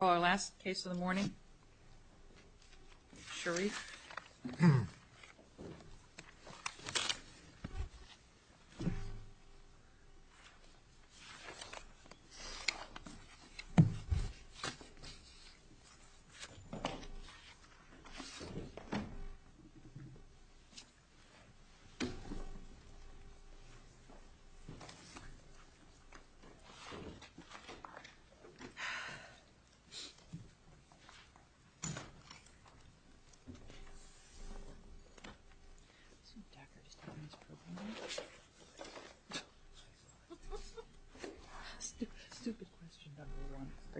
Well, our last case of the morning, Sharif.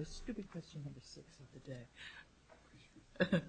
Stupid question number six of the day.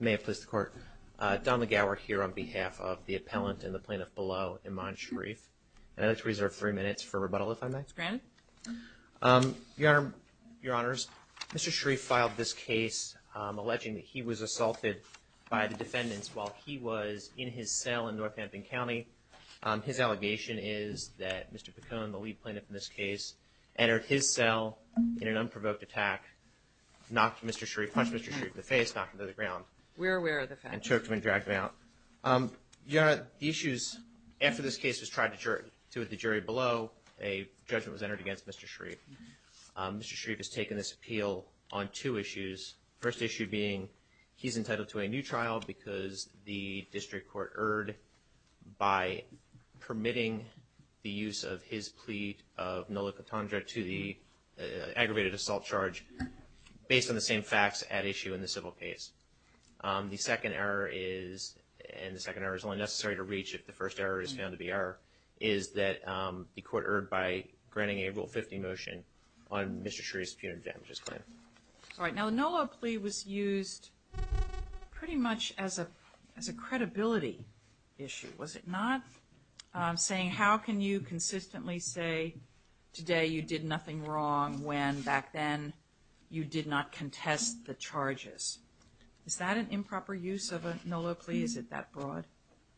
May it please the court. Don McGower here on behalf of the appellant and the plaintiff below, Iman Sharif. And I'd like to reserve three minutes for rebuttal, if I may. Granted. Your Honor, your Honors, Mr. Sharif filed this case alleging that he was assaulted by the defendants while he was in his cell in Northampton County. His allegation is that Mr. Picone, the lead plaintiff in this case, entered his cell in an unprovoked attack, knocked Mr. Sharif, punched Mr. Sharif in the face, knocked him to the ground. We're aware of the facts. And took him and dragged him out. Your Honor, the issues after this case was tried to the jury below, a judgment was entered against Mr. Sharif. Mr. Sharif has taken this appeal on two issues. First issue being he's entitled to a new trial because the district court erred by permitting the use of his plea of nullicotandra to the aggravated assault charge based on the same facts at issue in the civil case. The second error is, and the second error is only necessary to reach if the first error is found to be error, is that the court erred by granting a Rule 50 motion on Mr. Sharif's punitive damages claim. All right. Now, the Nolo plea was used pretty much as a credibility issue, was it not? Saying how can you consistently say today you did nothing wrong when back then you did not contest the charges? Is that an improper use of a Nolo plea? Is it that broad?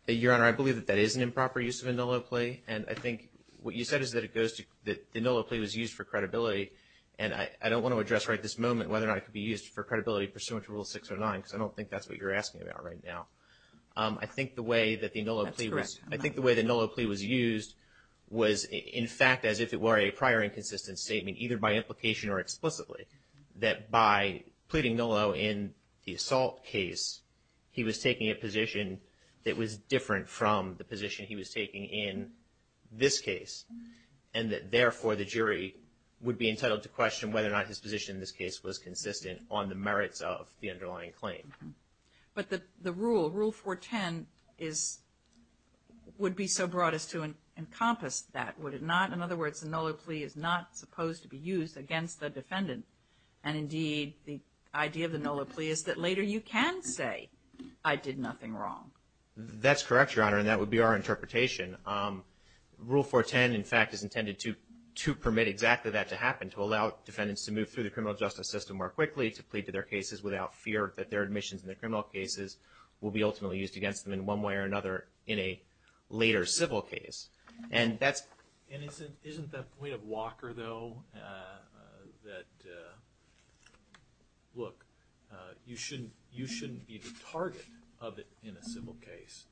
Your Honor, I believe that that is an improper use of a Nolo plea. And I think what you said is that it goes to that the Nolo plea was used for credibility. And I don't want to address right this moment whether or not it could be used for credibility pursuant to Rule 6 or 9 because I don't think that's what you're asking about right now. I think the way that the Nolo plea was used was, in fact, as if it were a prior inconsistent statement, either by implication or explicitly, that by pleading Nolo in the assault case, he was taking a position that was different from the position he was taking in this case. And that, therefore, the jury would be entitled to question whether or not his position in this case was consistent on the merits of the underlying claim. But the rule, Rule 410, would be so broad as to encompass that, would it not? In other words, the Nolo plea is not supposed to be used against the defendant. And, indeed, the idea of the Nolo plea is that later you can say, I did nothing wrong. That's correct, Your Honor, and that would be our interpretation. Rule 410, in fact, is intended to permit exactly that to happen, to allow defendants to move through the criminal justice system more quickly, to plead to their cases without fear that their admissions in the criminal cases will be ultimately used against them in one way or another in a later civil case. And isn't that point of Walker, though, that, look, you shouldn't be the target of it in a civil case,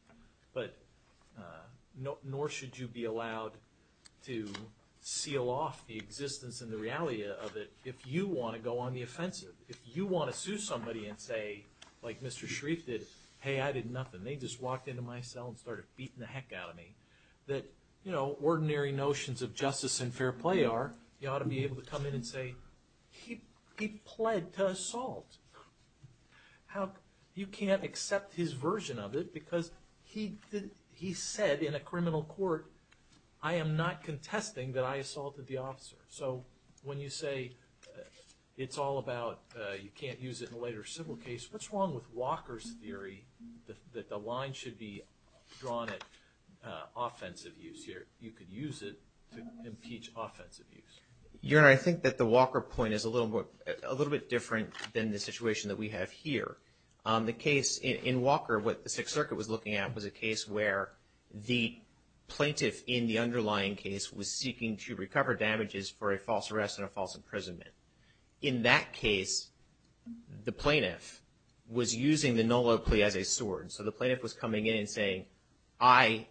but nor should you be allowed to seal off the existence and the reality of it if you want to go on the offensive. If you want to sue somebody and say, like Mr. Sharif did, hey, I did nothing, they just walked into my cell and started beating the heck out of me, that, you know, ordinary notions of justice and fair play are, you ought to be able to come in and say, he pled to assault. You can't accept his version of it because he said in a criminal court, I am not contesting that I assaulted the officer. So when you say it's all about you can't use it in a later civil case, what's wrong with Walker's theory that the line should be drawn at offensive use here? You could use it to impeach offensive use. Your Honor, I think that the Walker point is a little bit different than the situation that we have here. The case in Walker, what the Sixth Circuit was looking at was a case where the plaintiff in the underlying case was seeking to recover damages for a false arrest and a false imprisonment. In that case, the plaintiff was using the Nolo plea as a sword. So the plaintiff was coming in and saying, I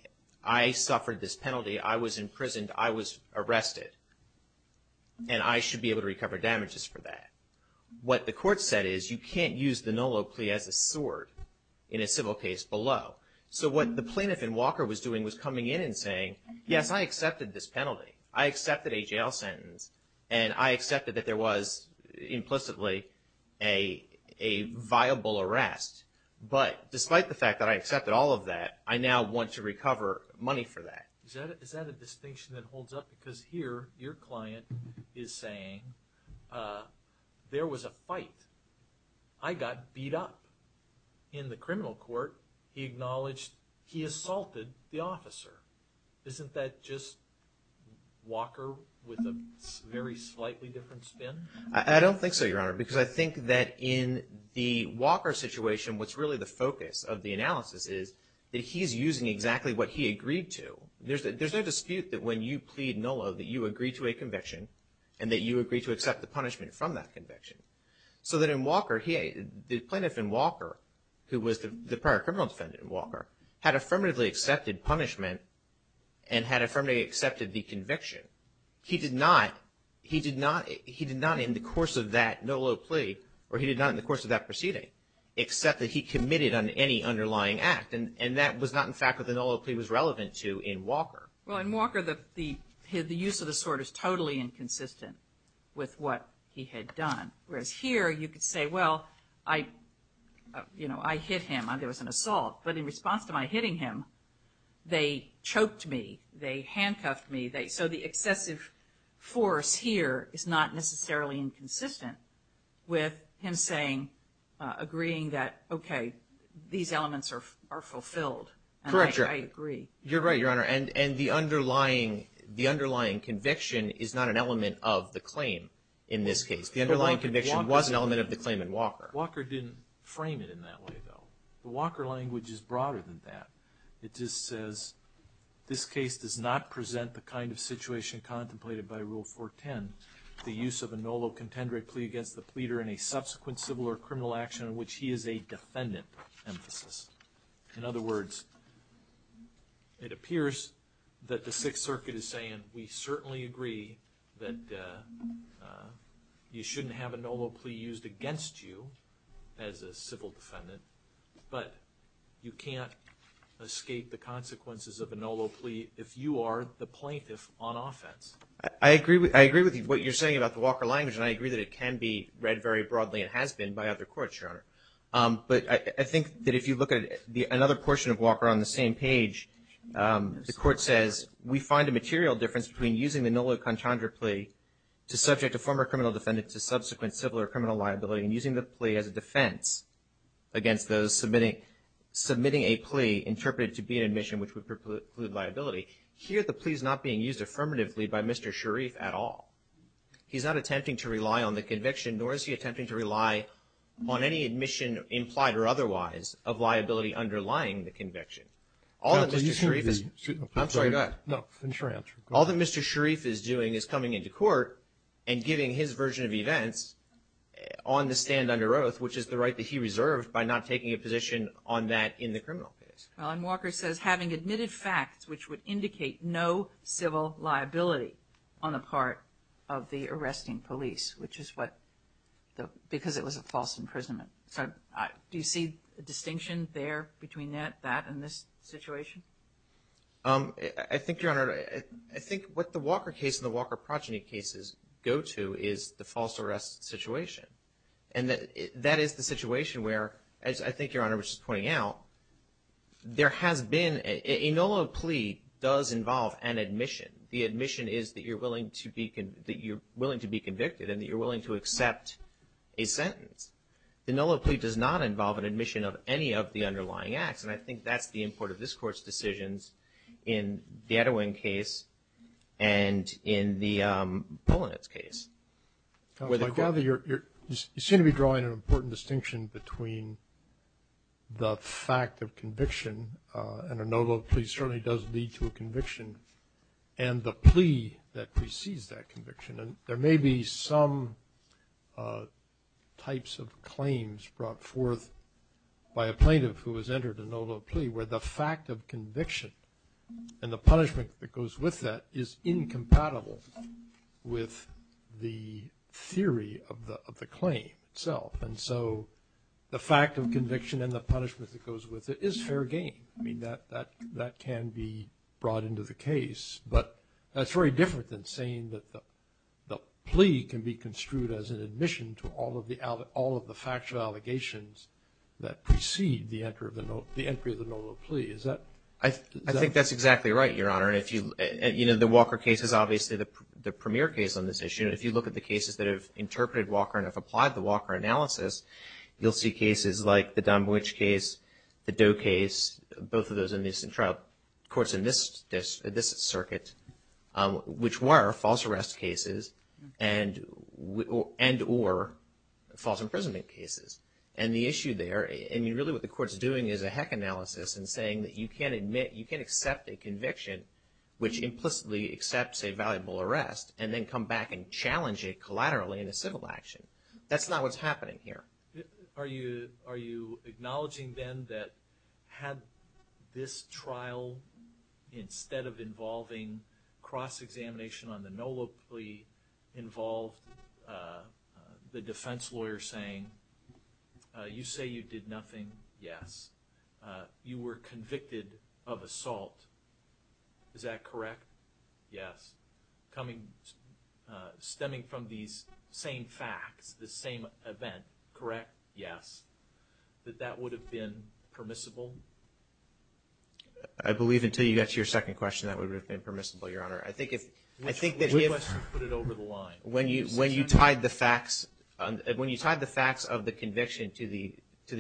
suffered this penalty, I was imprisoned, I was arrested, and I should be able to recover damages for that. What the court said is, you can't use the Nolo plea as a sword in a civil case below. So what the plaintiff in Walker was doing was coming in and saying, yes, I accepted this penalty. I accepted a jail sentence, and I accepted that there was implicitly a viable arrest. But despite the fact that I accepted all of that, I now want to recover money for that. Is that a distinction that holds up? Because here, your client is saying, there was a fight. I got beat up. Isn't that just Walker with a very slightly different spin? I don't think so, Your Honor, because I think that in the Walker situation, what's really the focus of the analysis is that he's using exactly what he agreed to. There's no dispute that when you plead Nolo that you agree to a conviction and that you agree to accept the punishment from that conviction. So that in Walker, the plaintiff in Walker, who was the prior criminal defendant in Walker, had affirmatively accepted punishment and had affirmatively accepted the conviction. He did not in the course of that Nolo plea, or he did not in the course of that proceeding, accept that he committed on any underlying act. And that was not in fact what the Nolo plea was relevant to in Walker. Well, in Walker, the use of the sword is totally inconsistent with what he had done. Whereas here, you could say, well, I hit him. There was an assault. But in response to my hitting him, they choked me. They handcuffed me. So the excessive force here is not necessarily inconsistent with him agreeing that, okay, these elements are fulfilled. Correct, Your Honor. And I agree. You're right, Your Honor. And the underlying conviction is not an element of the claim in this case. The underlying conviction was an element of the claim in Walker. Walker didn't frame it in that way, though. The Walker language is broader than that. It just says, this case does not present the kind of situation contemplated by Rule 410, the use of a Nolo contendere plea against the pleader in a subsequent civil or criminal action in which he is a defendant, emphasis. In other words, it appears that the Sixth Circuit is saying, and we certainly agree that you shouldn't have a Nolo plea used against you as a civil defendant, but you can't escape the consequences of a Nolo plea if you are the plaintiff on offense. I agree with you. What you're saying about the Walker language, and I agree that it can be read very broadly and has been by other courts, Your Honor. But I think that if you look at another portion of Walker on the same page, the Court says we find a material difference between using the Nolo contendere plea to subject a former criminal defendant to subsequent civil or criminal liability and using the plea as a defense against those submitting a plea interpreted to be an admission which would preclude liability. Here the plea is not being used affirmatively by Mr. Sharif at all. He's not attempting to rely on the conviction, nor is he attempting to rely on any admission implied or otherwise of liability underlying the conviction. All that Mr. Sharif is doing is coming into court and giving his version of events on the stand under oath, which is the right that he reserved by not taking a position on that in the criminal case. Well, and Walker says, having admitted facts which would indicate no civil liability on the part of the arresting police, which is what, because it was a false imprisonment. Do you see a distinction there between that and this situation? I think, Your Honor, I think what the Walker case and the Walker progeny cases go to is the false arrest situation. And that is the situation where, as I think Your Honor was just pointing out, there has been a Nolo plea does involve an admission. The admission is that you're willing to be convicted and that you're willing to accept a sentence. The Nolo plea does not involve an admission of any of the underlying acts. And I think that's the import of this Court's decisions in the Edowin case and in the Polonitz case. I gather you seem to be drawing an important distinction between the fact of conviction and a Nolo plea certainly does lead to a conviction and the plea that precedes that conviction. And there may be some types of claims brought forth by a plaintiff who has entered a Nolo plea where the fact of conviction and the punishment that goes with that is incompatible with the theory of the claim itself. And so the fact of conviction and the punishment that goes with it is fair game. I mean, that can be brought into the case. But that's very different than saying that the plea can be construed as an admission to all of the factual allegations that precede the entry of the Nolo plea. I think that's exactly right, Your Honor. You know, the Walker case is obviously the premier case on this issue. And if you look at the cases that have interpreted Walker and have applied the Walker analysis, you'll see cases like the Don Boych case, the Doe case, both of those in the trial courts in this circuit, which were false arrest cases and or false imprisonment cases. And the issue there, I mean, really what the court's doing is a heck analysis and saying that you can't admit, you can't accept a conviction which implicitly accepts a valuable arrest and then come back and challenge it collaterally in a civil action. That's not what's happening here. Are you acknowledging then that had this trial, instead of involving cross-examination on the Nolo plea, involved the defense lawyer saying, you say you did nothing, yes. You were convicted of assault. Is that correct? Yes. Stemming from these same facts, the same event, correct? Yes. That that would have been permissible? I believe until you got to your second question that would have been permissible, Your Honor. Which question put it over the line? When you tied the facts of the conviction to the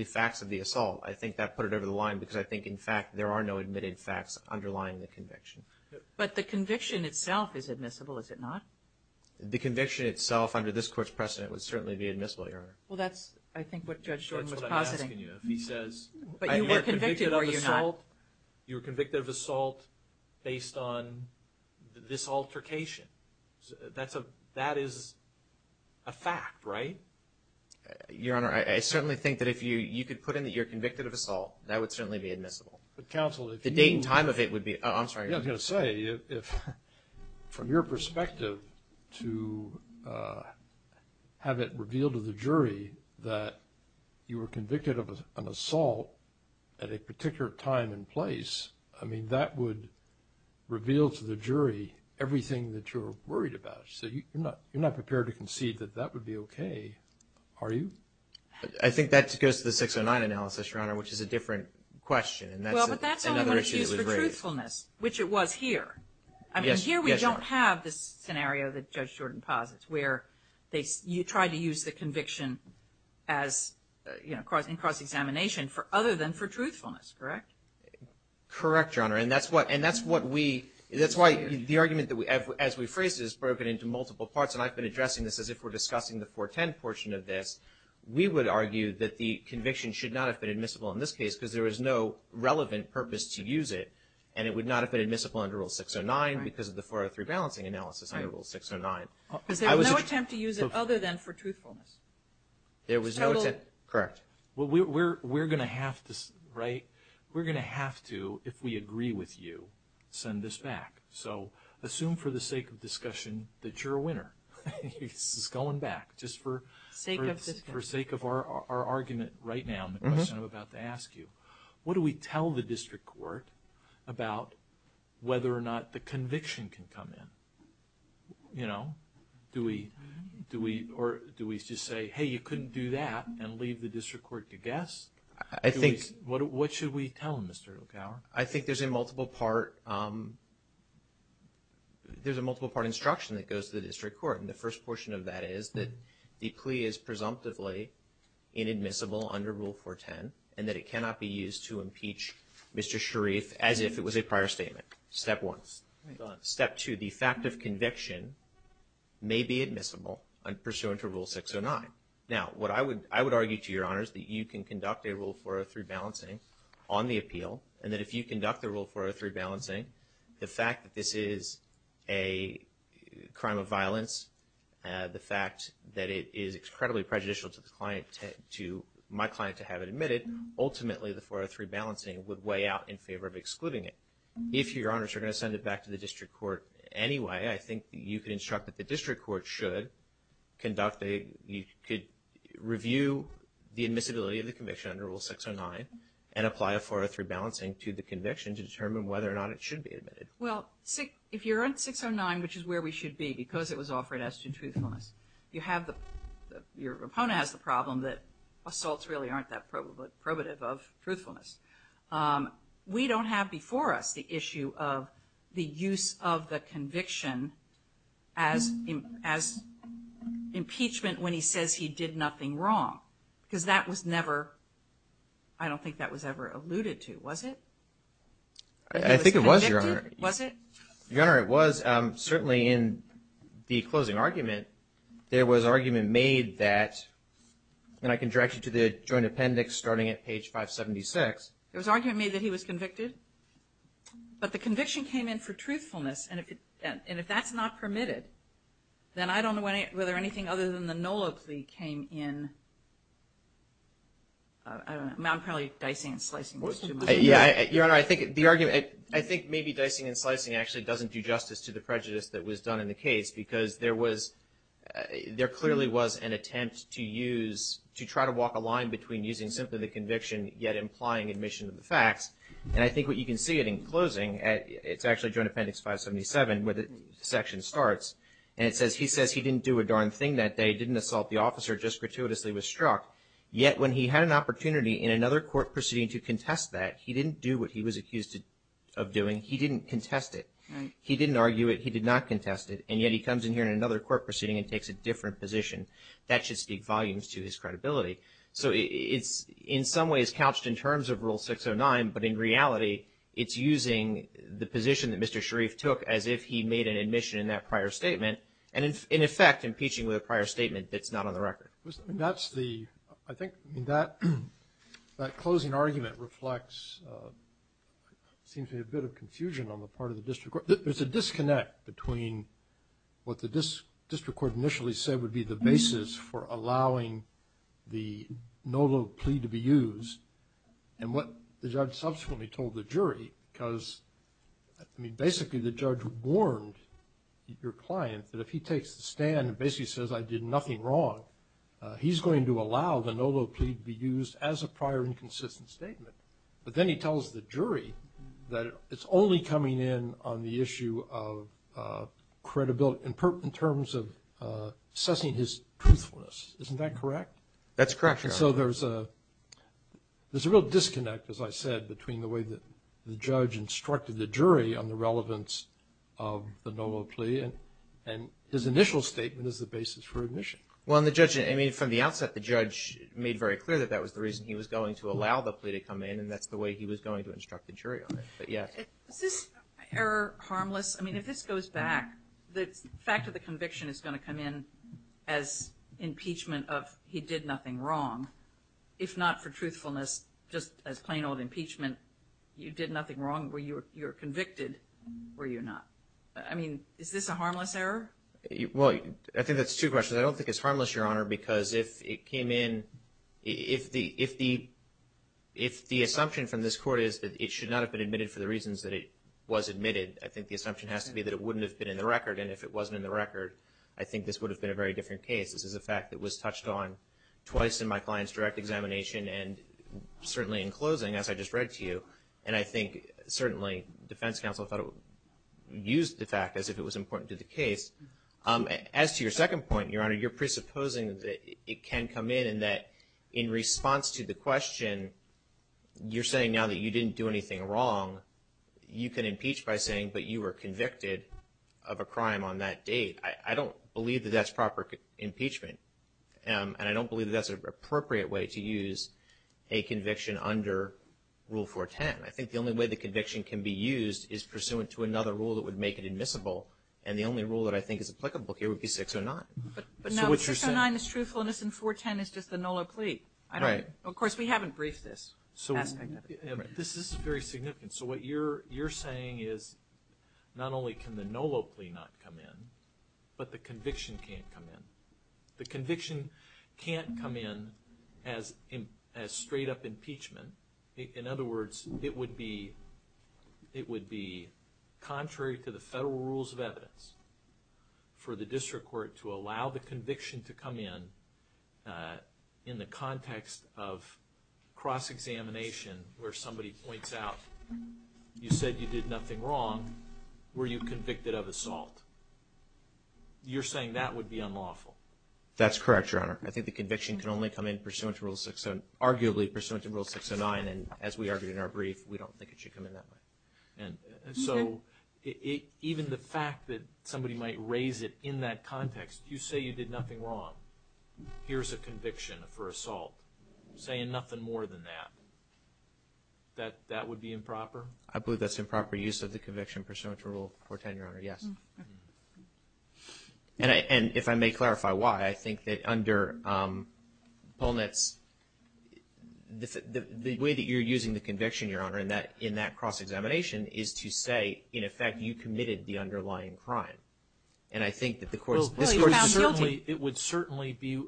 facts of the assault, I think that put it over the line because I think, in fact, there are no admitted facts underlying the conviction. But the conviction itself is admissible, is it not? The conviction itself under this court's precedent would certainly be admissible, Your Honor. Well, that's I think what Judge Jordan was positing. That's what I'm asking you. If he says you were convicted of assault based on this altercation. That is a fact, right? Your Honor, I certainly think that if you could put in that you're convicted of assault, that would certainly be admissible. The date and time of it would be. I'm sorry. I was going to say if from your perspective to have it revealed to the jury that you were convicted of an assault at a particular time and place, I mean, that would reveal to the jury everything that you're worried about. So you're not prepared to concede that that would be okay, are you? I think that goes to the 609 analysis, Your Honor, which is a different question. Well, but that's only when it's used for truthfulness, which it was here. I mean, here we don't have this scenario that Judge Jordan posits where you try to use the conviction as, you know, in cross-examination other than for truthfulness, correct? Correct, Your Honor. And that's what we, that's why the argument as we phrase it is broken into multiple parts. And I've been addressing this as if we're discussing the 410 portion of this. We would argue that the conviction should not have been admissible in this case because there was no relevant purpose to use it, and it would not have been admissible under Rule 609 because of the 403 balancing analysis under Rule 609. Because there was no attempt to use it other than for truthfulness. There was no attempt, correct. Well, we're going to have to, right? We're going to have to, if we agree with you, send this back. So assume for the sake of discussion that you're a winner. This is going back. Just for sake of our argument right now and the question I'm about to ask you. What do we tell the district court about whether or not the conviction can come in? You know, do we just say, hey, you couldn't do that and leave the district court to guess? I think. What should we tell them, Mr. Lukauer? I think there's a multiple part instruction that goes to the district court, and the first portion of that is that the plea is presumptively inadmissible under Rule 410 and that it cannot be used to impeach Mr. Sharif as if it was a prior statement. Step one. Step two, the fact of conviction may be admissible pursuant to Rule 609. Now, I would argue to your honors that you can conduct a Rule 403 balancing on the appeal and that if you conduct the Rule 403 balancing, the fact that this is a crime of violence, the fact that it is incredibly prejudicial to my client to have it admitted, ultimately the 403 balancing would weigh out in favor of excluding it. If your honors are going to send it back to the district court anyway, I think you could instruct that the district court should conduct a You could review the admissibility of the conviction under Rule 609 and apply a 403 balancing to the conviction to determine whether or not it should be admitted. Well, if you're in 609, which is where we should be because it was offered as to truthfulness, your opponent has the problem that assaults really aren't that probative of truthfulness. We don't have before us the issue of the use of the conviction as impeachment when he says he did nothing wrong because that was never, I don't think that was ever alluded to. Was it? I think it was, your honor. Was it? Your honor, it was. Certainly in the closing argument, there was argument made that, and I can direct you to the joint appendix starting at page 576. There was argument made that he was convicted, but the conviction came in for truthfulness, and if that's not permitted, then I don't know whether anything other than the NOLA plea came in. I'm probably dicing and slicing this too much. Your honor, I think maybe dicing and slicing actually doesn't do justice to the prejudice that was done in the case because there clearly was an attempt to use, to try to walk a line between using simply the conviction yet implying admission of the facts, and I think what you can see it in closing, it's actually joint appendix 577 where the section starts, and it says he says he didn't do a darn thing that day, didn't assault the officer, just gratuitously was struck, yet when he had an opportunity in another court proceeding to contest that, he didn't do what he was accused of doing. He didn't contest it. He didn't argue it. He did not contest it, and yet he comes in here in another court proceeding and takes a different position. That should speak volumes to his credibility. So it's in some ways couched in terms of Rule 609, but in reality, it's using the position that Mr. Sharif took as if he made an admission in that prior statement, and in effect impeaching with a prior statement that's not on the record. I think that closing argument reflects a bit of confusion on the part of the district court. There's a disconnect between what the district court initially said would be the basis for allowing the Nolo plea to be used and what the judge subsequently told the jury, because basically the judge warned your client that if he takes the stand and basically says I did nothing wrong, he's going to allow the Nolo plea to be used as a prior inconsistent statement. But then he tells the jury that it's only coming in on the issue of credibility in terms of assessing his truthfulness. Isn't that correct? That's correct, Your Honor. So there's a real disconnect, as I said, between the way that the judge instructed the jury on the relevance of the Nolo plea and his initial statement as the basis for admission. Well, and the judge, I mean, from the outset, the judge made very clear that that was the reason he was going to allow the plea to come in, and that's the way he was going to instruct the jury on it. But, yeah. Is this error harmless? I mean, if this goes back, the fact that the conviction is going to come in as impeachment of he did nothing wrong, if not for truthfulness, just as plain old impeachment, you did nothing wrong, you were convicted, were you not? I mean, is this a harmless error? Well, I think that's two questions. I don't think it's harmless, Your Honor, because if it came in, if the assumption from this court is that it should not have been admitted for the reasons that it was admitted, I think the assumption has to be that it wouldn't have been in the record. And if it wasn't in the record, I think this would have been a very different case. This is a fact that was touched on twice in my client's direct examination, and certainly in closing, as I just read to you. And I think certainly defense counsel thought it would use the fact as if it was important to the case. As to your second point, Your Honor, you're presupposing that it can come in and that in response to the question, you're saying now that you didn't do anything wrong, you can impeach by saying, but you were convicted of a crime on that date. I don't believe that that's proper impeachment, and I don't believe that that's an appropriate way to use a conviction under Rule 410. I think the only way the conviction can be used is pursuant to another rule that would make it admissible, and the only rule that I think is applicable here would be 609. But 609 is truthfulness and 410 is just the Nolo plea. Of course, we haven't briefed this aspect of it. This is very significant. So what you're saying is not only can the Nolo plea not come in, but the conviction can't come in. The conviction can't come in as straight-up impeachment. In other words, it would be contrary to the federal rules of evidence for the district court to allow the conviction to come in in the context of cross-examination where somebody points out, you said you did nothing wrong. Were you convicted of assault? You're saying that would be unlawful? That's correct, Your Honor. I think the conviction can only come in pursuant to Rule 609, and as we argued in our brief, we don't think it should come in that way. So even the fact that somebody might raise it in that context, you say you did nothing wrong, here's a conviction for assault, saying nothing more than that, that that would be improper? I believe that's improper use of the conviction pursuant to Rule 410, Your Honor, yes. And if I may clarify why, I think that under Polnitz, the way that you're using the conviction, Your Honor, in that cross-examination, is to say, in effect, you committed the underlying crime. And I think that the court's – Well, you found guilty. It would certainly be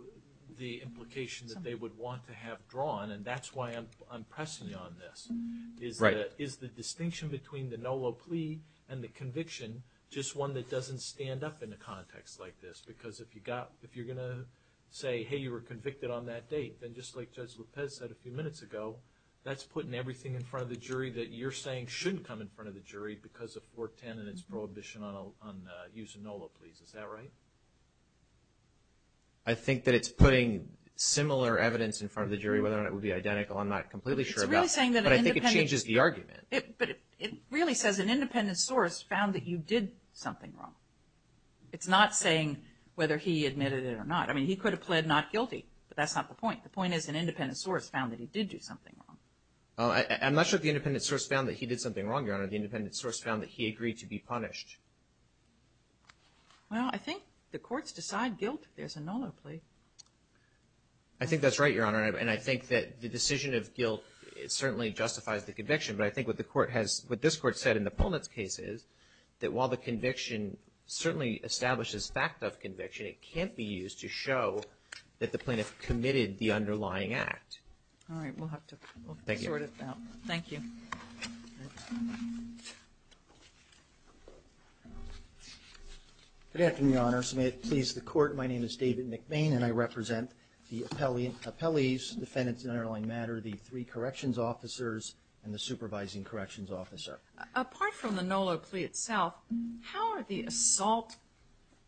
the implications that they would want to have drawn, and that's why I'm pressing you on this. Right. Is the distinction between the NOLA plea and the conviction just one that doesn't stand up in a context like this? Because if you're going to say, hey, you were convicted on that date, then just like Judge Lopez said a few minutes ago, that's putting everything in front of the jury that you're saying shouldn't come in front of the jury because of 410 and its prohibition on using NOLA pleas. Is that right? I think that it's putting similar evidence in front of the jury, whether or not it would be identical, I'm not completely sure about that. But I think it changes the argument. But it really says an independent source found that you did something wrong. It's not saying whether he admitted it or not. I mean, he could have pled not guilty, but that's not the point. The point is an independent source found that he did do something wrong. I'm not sure if the independent source found that he did something wrong, Your Honor. The independent source found that he agreed to be punished. Well, I think the courts decide guilt if there's a NOLA plea. I think that's right, Your Honor, and I think that the decision of guilt certainly justifies the conviction. But I think what the court has, what this court said in the Pullman's case is that while the conviction certainly establishes fact of conviction, it can't be used to show that the plaintiff committed the underlying act. All right. We'll have to sort it out. Thank you. Thank you. Good afternoon, Your Honors. May it please the Court. My name is David McBain, and I represent the appellees, defendants in underlying matter, the three corrections officers, and the supervising corrections officer. Apart from the NOLA plea itself, how are the assault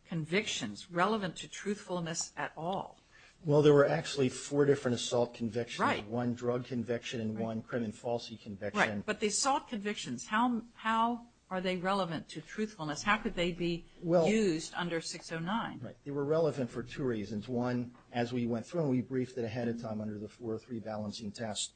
convictions relevant to truthfulness at all? Well, there were actually four different assault convictions. Right. One drug conviction and one crime and falsity conviction. Right. But the assault convictions, how are they relevant to truthfulness? How could they be used under 609? Right. They were relevant for two reasons. One, as we went through and we briefed it ahead of time under the 403 balancing test,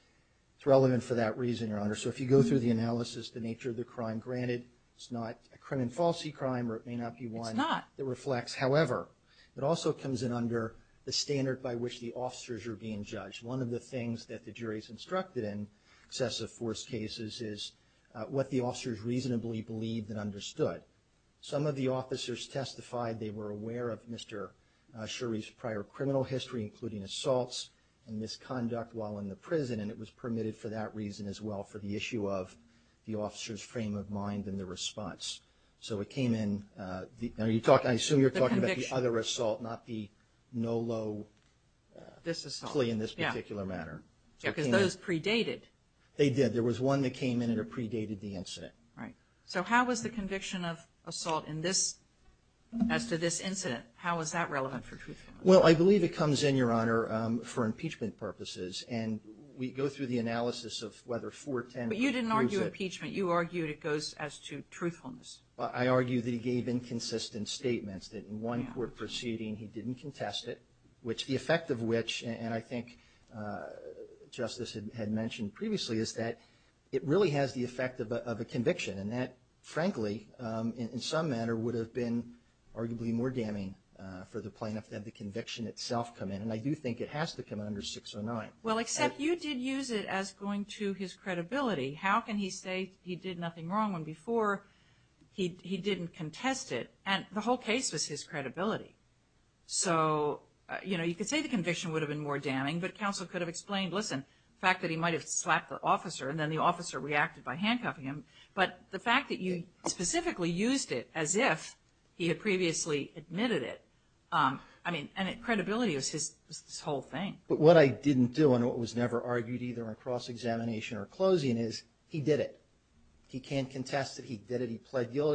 it's relevant for that reason, Your Honor. So if you go through the analysis, the nature of the crime, granted it's not a crime and falsity crime or it may not be one that reflects. It's not. However, it also comes in under the standard by which the officers are being judged. One of the things that the jury is instructed in excessive force cases is what the officers reasonably believed and understood. Some of the officers testified they were aware of Mr. Shuri's prior criminal history, including assaults and misconduct while in the prison, and it was permitted for that reason as well, for the issue of the officer's frame of mind and the response. So it came in. I assume you're talking about the other assault, not the NOLA plea in this particular matter. Yeah, because those predated. They did. There was one that came in that predated the incident. Right. So how was the conviction of assault in this, as to this incident, how is that relevant for truthfulness? Well, I believe it comes in, Your Honor, for impeachment purposes, and we go through the analysis of whether 410 proves it. But you didn't argue impeachment. You argued it goes as to truthfulness. I argued that he gave inconsistent statements, that in one court proceeding he didn't contest it, which the effect of which, and I think Justice had mentioned previously, is that it really has the effect of a conviction, and that frankly in some manner would have been arguably more damning for the plaintiff to have the conviction itself come in, and I do think it has to come under 609. Well, except you did use it as going to his credibility. How can he say he did nothing wrong when before he didn't contest it, and the whole case was his credibility? So, you know, you could say the conviction would have been more damning, but counsel could have explained, listen, the fact that he might have slapped the officer and then the officer reacted by handcuffing him, but the fact that you specifically used it as if he had previously admitted it, I mean, and credibility was his whole thing. But what I didn't do and what was never argued either in cross-examination or closing is he did it. He can't contest that he did it. He pled no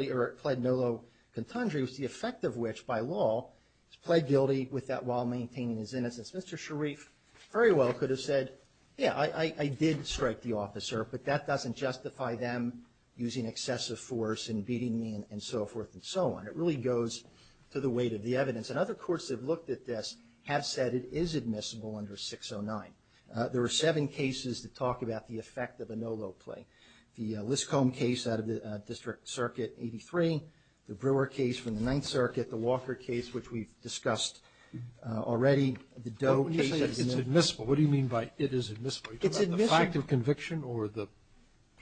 low contundry, which the effect of which, by law, he's pled guilty with that while maintaining his innocence. Mr. Sharif very well could have said, yeah, I did strike the officer, but that doesn't justify them using excessive force and beating me and so forth and so on. It really goes to the weight of the evidence, and other courts that have looked at this have said it is admissible under 609. There are seven cases that talk about the effect of a no low plea. The Liscomb case out of the District Circuit, 83, the Brewer case from the Ninth Circuit, the Walker case, which we've discussed already, the Doe case. Well, when you say it's admissible, what do you mean by it is admissible? It's admissible. Are you talking about the fact of conviction or the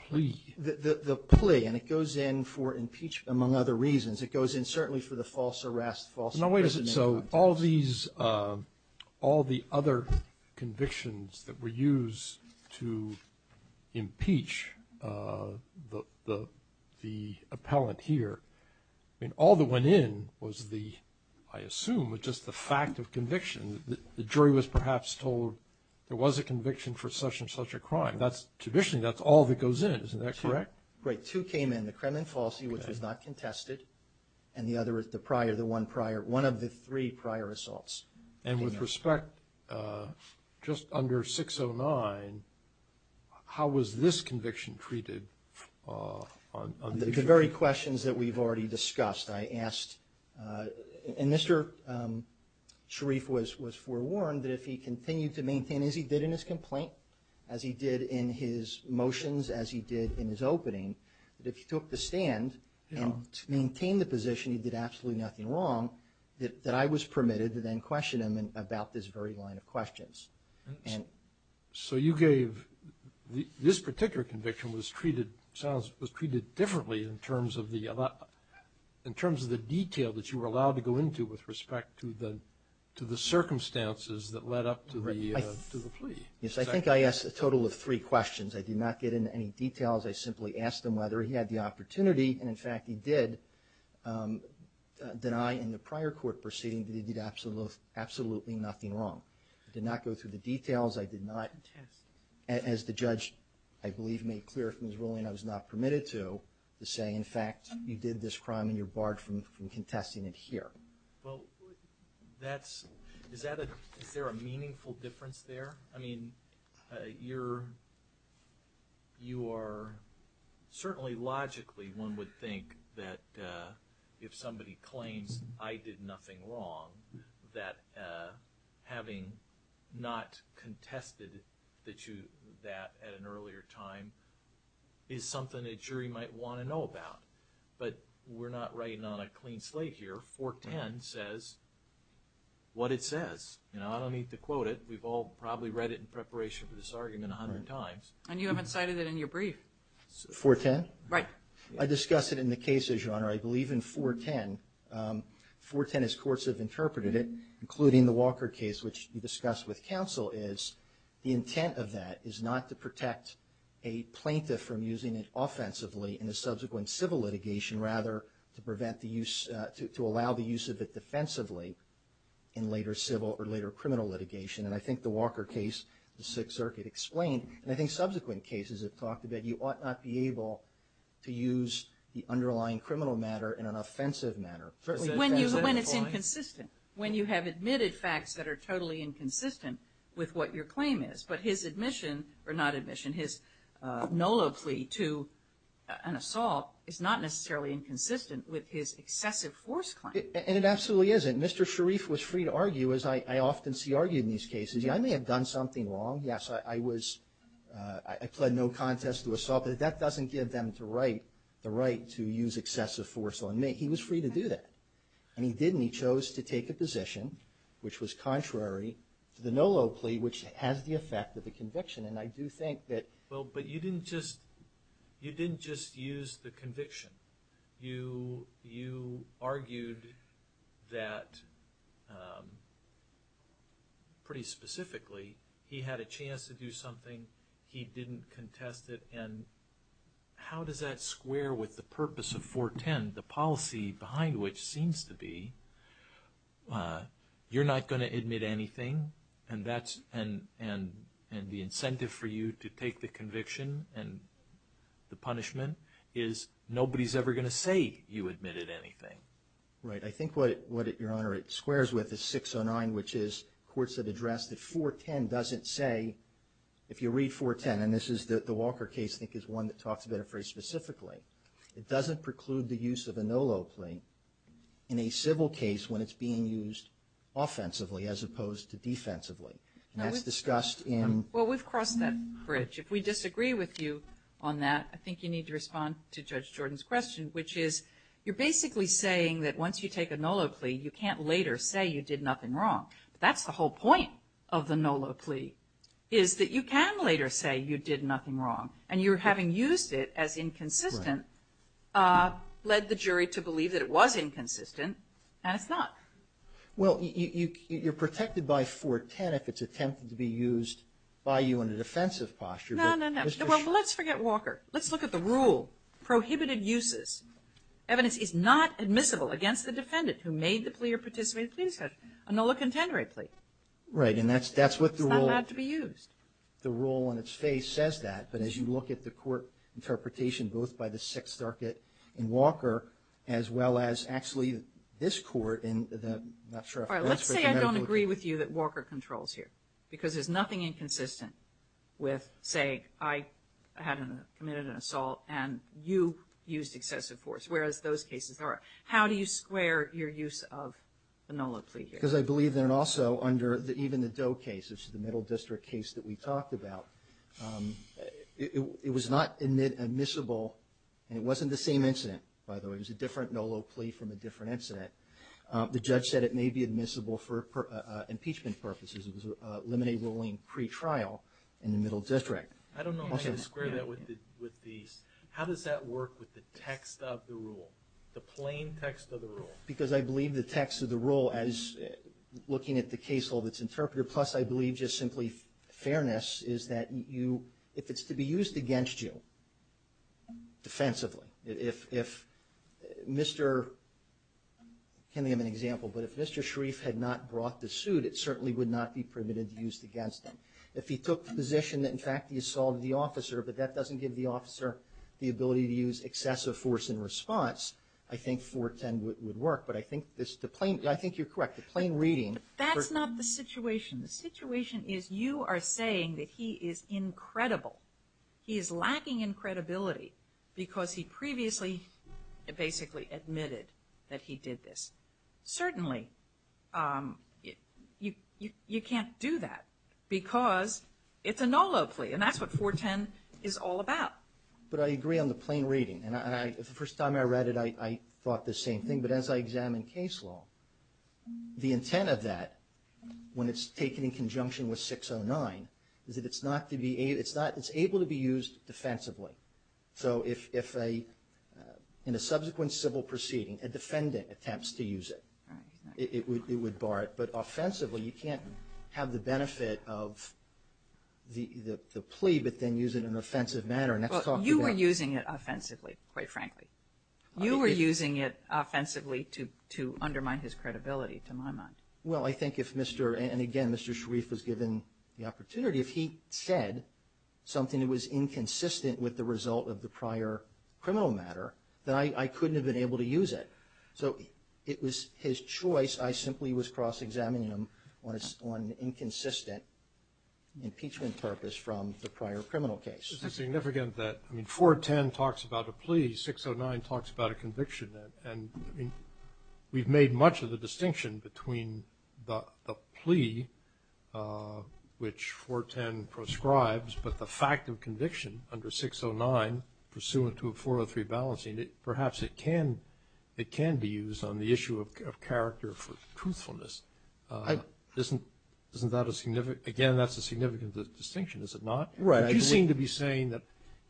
plea? The plea, and it goes in for impeachment among other reasons. It goes in certainly for the false arrest, false imprisonment. No, wait a second. So all these, all the other convictions that were used to impeach the appellant here, I mean, all that went in was the, I assume, was just the fact of conviction. The jury was perhaps told there was a conviction for such and such a crime. That's, traditionally, that's all that goes in. Isn't that correct? Right. Two came in, the Kremlin falsie, which was not contested, and the other is the prior, the one prior, one of the three prior assaults. And with respect, just under 609, how was this conviction treated? The very questions that we've already discussed. I asked, and Mr. Sharif was forewarned that if he continued to maintain, as he did in his complaint, as he did in his motions, as he did in his opening, that if he took the stand and maintained the position he did absolutely nothing wrong, that I was permitted to then question him about this very line of questions. So you gave, this particular conviction was treated, was treated differently in terms of the detail that you were allowed to go into with respect to the circumstances that led up to the plea. Yes, I think I asked a total of three questions. I did not get into any details. I simply asked him whether he had the opportunity, and, in fact, he did deny in the prior court proceeding that he did absolutely nothing wrong. I did not go through the details. I did not, as the judge, I believe, made clear from his ruling, I was not permitted to, to say, in fact, you did this crime and you're barred from contesting it here. Well, that's, is that a, is there a meaningful difference there? I mean, you're, you are, certainly logically one would think that if somebody claims I did nothing wrong, that having not contested that you, that at an earlier time, is something a jury might want to know about. But we're not writing on a clean slate here. 410 says what it says. You know, I don't need to quote it. We've all probably read it in preparation for this argument a hundred times. And you haven't cited it in your brief. 410? Right. I discuss it in the cases, Your Honor. I believe in 410, 410 as courts have interpreted it, including the Walker case, which you discussed with counsel, is the intent of that is not to protect a plaintiff from using it offensively in a subsequent civil litigation, rather to prevent the use, to allow the use of it defensively in later civil or later criminal litigation. And I think the Walker case, the Sixth Circuit explained, and I think subsequent cases have talked about that you ought not be able to use the underlying criminal matter in an offensive manner. When it's inconsistent. When you have admitted facts that are totally inconsistent with what your claim is. But his admission, or not admission, his nulla plea to an assault is not necessarily inconsistent with his excessive force claim. And it absolutely isn't. Mr. Sharif was free to argue, as I often see argued in these cases. I may have done something wrong. Yes, I was, I pled no contest to assault. But that doesn't give them the right to use excessive force on me. He was free to do that. And he didn't. He chose to take a position which was contrary to the nulla plea, which has the effect of a conviction. And I do think that. Well, but you didn't just, you didn't just use the conviction. You argued that, pretty specifically, he had a chance to do something. He didn't contest it. And how does that square with the purpose of 410, the policy behind which seems to be you're not going to admit anything and the incentive for you to take the conviction and the punishment is nobody's ever going to say you admitted anything. Right. I think what, Your Honor, it squares with is 609, which is courts have addressed that 410 doesn't say, if you read 410, and this is the Walker case, I think, is one that talks about it very specifically. It doesn't preclude the use of a nulla plea in a civil case when it's being used offensively as opposed to defensively. And that's discussed in. Well, we've crossed that bridge. If we disagree with you on that, I think you need to respond to Judge Jordan's question, which is you're basically saying that once you take a nulla plea, you can't later say you did nothing wrong. But that's the whole point of the nulla plea, is that you can later say you did nothing wrong. And you're having used it as inconsistent led the jury to believe that it was inconsistent, and it's not. Well, you're protected by 410 if it's attempted to be used by you in a defensive posture. No, no, no. Well, let's forget Walker. Let's look at the rule. Prohibited uses. Evidence is not admissible against the defendant who made the plea or participated in the plea discussion, a nulla contendere plea. Right. And that's what the rule. It's not allowed to be used. The rule on its face says that. But as you look at the court interpretation, both by the Sixth Circuit in Walker, as well as actually this court in the, I'm not sure. All right, let's say I don't agree with you that Walker controls here because there's nothing inconsistent with saying I committed an assault and you used excessive force, whereas those cases are. How do you square your use of the nulla plea here? Because I believe that also under even the Doe case, which is the Middle District case that we talked about, it was not admissible, and it wasn't the same incident, by the way. It was a different nulla plea from a different incident. The judge said it may be admissible for impeachment purposes. It was a limine ruling pretrial in the Middle District. I don't know how to square that with the – how does that work with the text of the rule, the plain text of the rule? Because I believe the text of the rule as looking at the case law that's interpreted, plus I believe just simply fairness, is that if it's to be used against you defensively, if Mr. – can I give an example? But if Mr. Sharif had not brought the suit, it certainly would not be permitted to be used against him. If he took the position that in fact the assault of the officer, but that doesn't give the officer the ability to use excessive force in response, I think 410 would work. But I think this – I think you're correct. The plain reading – That's not the situation. The situation is you are saying that he is incredible. He is lacking in credibility because he previously basically admitted that he did this. Certainly, you can't do that because it's a NOLA plea, and that's what 410 is all about. But I agree on the plain reading. And the first time I read it, I thought the same thing. But as I examine case law, the intent of that, when it's taken in conjunction with 609, is that it's not to be – it's able to be used defensively. So if a – in a subsequent civil proceeding, a defendant attempts to use it, it would bar it. But offensively, you can't have the benefit of the plea but then use it in an offensive manner, and that's talked about. Well, you were using it offensively, quite frankly. You were using it offensively to undermine his credibility, to my mind. Well, I think if Mr. – and again, Mr. Sharif was given the opportunity. If he said something that was inconsistent with the result of the prior criminal matter, then I couldn't have been able to use it. So it was his choice. I simply was cross-examining him on an inconsistent impeachment purpose from the prior criminal case. Is it significant that – I mean, 410 talks about a plea. 609 talks about a conviction. And I mean, we've made much of the distinction between the plea, which 410 proscribes, but the fact of conviction under 609 pursuant to a 403 balancing, perhaps it can be used on the issue of character for truthfulness. Isn't that a significant – again, that's a significant distinction, is it not? Right. You seem to be saying that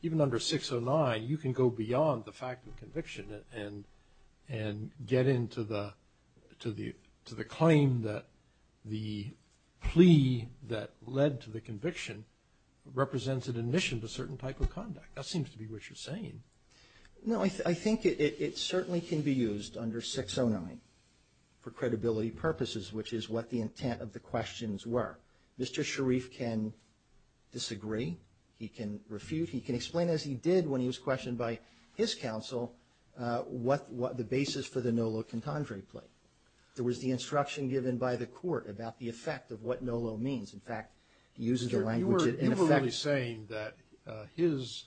even under 609, you can go beyond the fact of conviction and get into the claim that the plea that led to the conviction represents an admission to certain type of conduct. That seems to be what you're saying. No, I think it certainly can be used under 609 for credibility purposes, which is what the intent of the questions were. Mr. Sharif can disagree. He can refute. He can explain, as he did when he was questioned by his counsel, what the basis for the NOLO contendere plea. There was the instruction given by the court about the effect of what NOLO means. In fact, he uses the language, in effect – You were only saying that his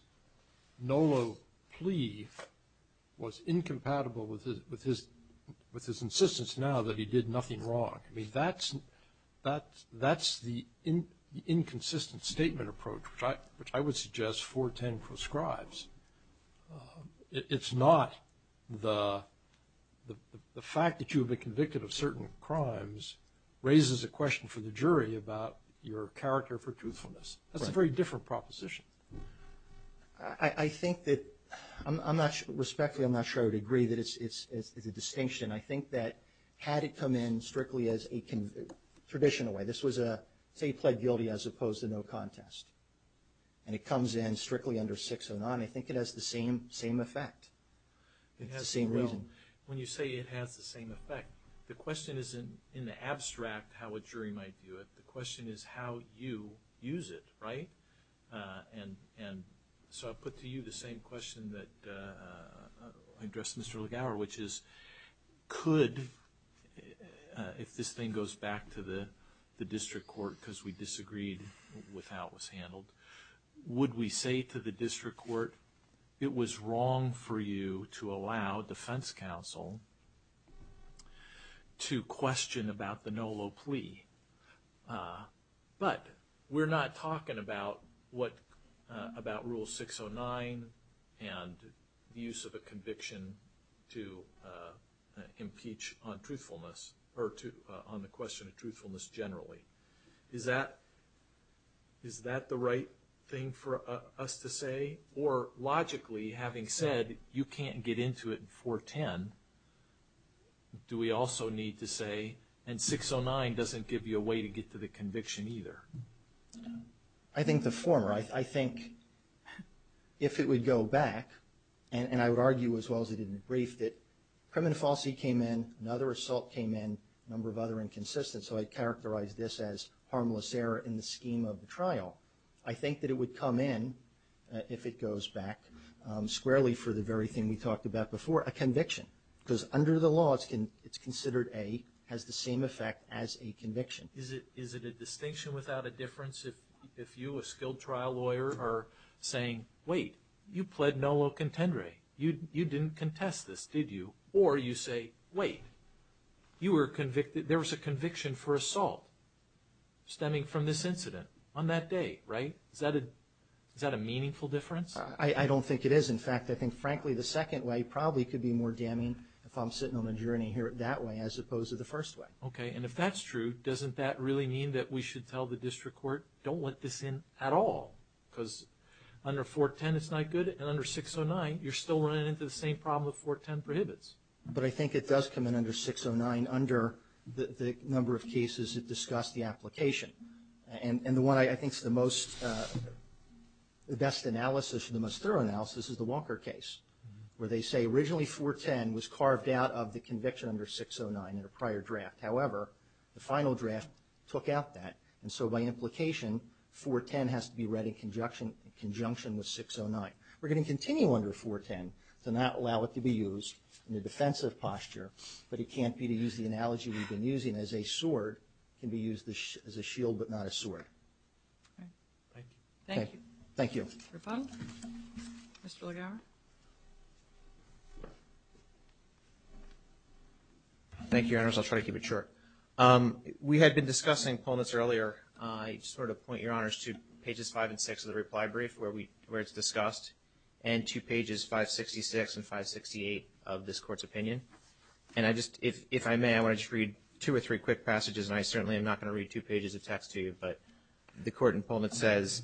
NOLO plea was incompatible with his insistence now that he did nothing wrong. I mean, that's the inconsistent statement approach, which I would suggest 410 proscribes. It's not the fact that you have been convicted of certain crimes raises a question for the jury about your character for truthfulness. That's a very different proposition. I think that – respectfully, I'm not sure I would agree that it's a distinction. I think that had it come in strictly as a traditional way – say he pled guilty as opposed to no contest, and it comes in strictly under 609, I think it has the same effect. It has the same reason. When you say it has the same effect, the question isn't in the abstract how a jury might do it. The question is how you use it, right? So I put to you the same question that I addressed Mr. Legauer, which is could – if this thing goes back to the district court because we disagreed with how it was handled, would we say to the district court it was wrong for you to allow defense counsel to question about the NOLO plea? But we're not talking about what – about Rule 609 and the use of a conviction to impeach on truthfulness – or on the question of truthfulness generally. Is that the right thing for us to say? Or logically, having said you can't get into it in 410, do we also need to say – and that doesn't give you a way to get to the conviction either? I think the former. I think if it would go back, and I would argue as well as I did in the brief that criminal falsity came in, another assault came in, a number of other inconsistencies, so I'd characterize this as harmless error in the scheme of the trial. I think that it would come in, if it goes back squarely for the very thing we talked about before, a conviction. Because under the law, it's considered a – has the same effect as a conviction. Is it a distinction without a difference if you, a skilled trial lawyer, are saying, wait, you pled NOLO contendere. You didn't contest this, did you? Or you say, wait, you were convicted – there was a conviction for assault stemming from this incident on that day, right? Is that a meaningful difference? I don't think it is. In fact, I think, frankly, the second way probably could be more damning if I'm sitting on a journey that way as opposed to the first way. Okay. And if that's true, doesn't that really mean that we should tell the district court, don't let this in at all? Because under 410, it's not good, and under 609, you're still running into the same problem that 410 prohibits. But I think it does come in under 609 under the number of cases that discuss the application. And the one I think is the most – the best analysis, the most thorough analysis is the Walker case, where they say originally 410 was carved out of the conviction under 609 in a prior draft. However, the final draft took out that, and so by implication, 410 has to be read in conjunction with 609. We're going to continue under 410 to not allow it to be used in a defensive posture, but it can't be to use the analogy we've been using as a sword. It can be used as a shield but not a sword. Thank you. Thank you. Okay. Thank you. No problem. Mr. Legauer. Thank you, Your Honors. I'll try to keep it short. We had been discussing pull notes earlier. I sort of point Your Honors to pages 5 and 6 of the reply brief where it's discussed and to pages 566 and 568 of this court's opinion. And I just – if I may, I want to just read two or three quick passages, and I certainly am not going to read two pages of text to you, but the court in Pullman says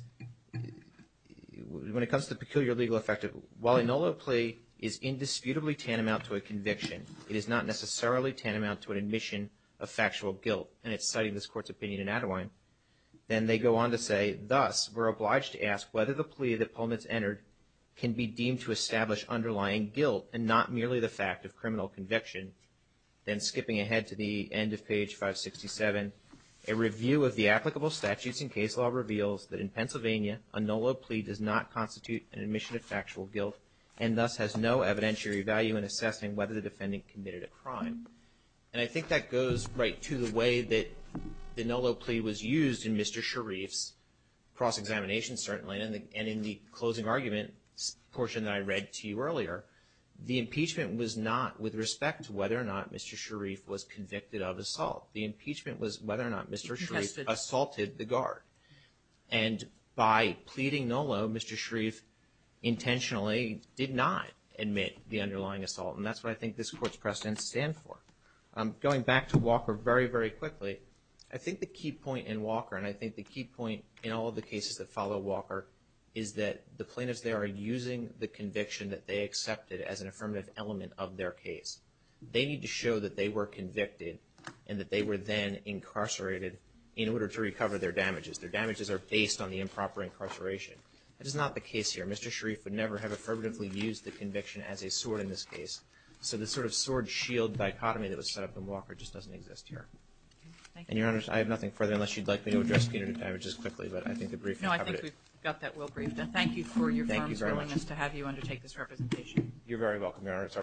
when it comes to peculiar legal effect, while a nulla plea is indisputably tantamount to a conviction, it is not necessarily tantamount to an admission of factual guilt. And it's citing this court's opinion in Attawine. Then they go on to say, thus, we're obliged to ask whether the plea that Pullman's entered can be deemed to establish underlying guilt and not merely the fact of criminal conviction. Then skipping ahead to the end of page 567, a review of the applicable statutes in case law reveals that in Pennsylvania, a nulla plea does not constitute an admission of factual guilt and thus has no evidentiary value in assessing whether the defendant committed a crime. And I think that goes right to the way that the nulla plea was used in Mr. Sharif's cross-examination certainly and in the closing argument portion that I read to you earlier. The impeachment was not with respect to whether or not Mr. Sharif was convicted of assault. The impeachment was whether or not Mr. Sharif assaulted the guard. And by pleading nulla, Mr. Sharif intentionally did not admit the underlying assault, and that's what I think this court's precedents stand for. Going back to Walker very, very quickly, I think the key point in Walker, and I think the key point in all of the cases that follow Walker, is that the plaintiffs there are using the conviction that they accepted as an affirmative element of their case. They need to show that they were convicted and that they were then incarcerated in order to recover their damages. Their damages are based on the improper incarceration. That is not the case here. Mr. Sharif would never have affirmatively used the conviction as a sword in this case, so the sort of sword-shield dichotomy that was set up in Walker just doesn't exist here. And, Your Honor, I have nothing further unless you'd like me to address punitive damages quickly, but I think the brief has covered it. No, I think we've got that well briefed. Thank you for your firm willingness to have you undertake this representation. Thank you very much. You're very welcome, Your Honor. It's our pleasure.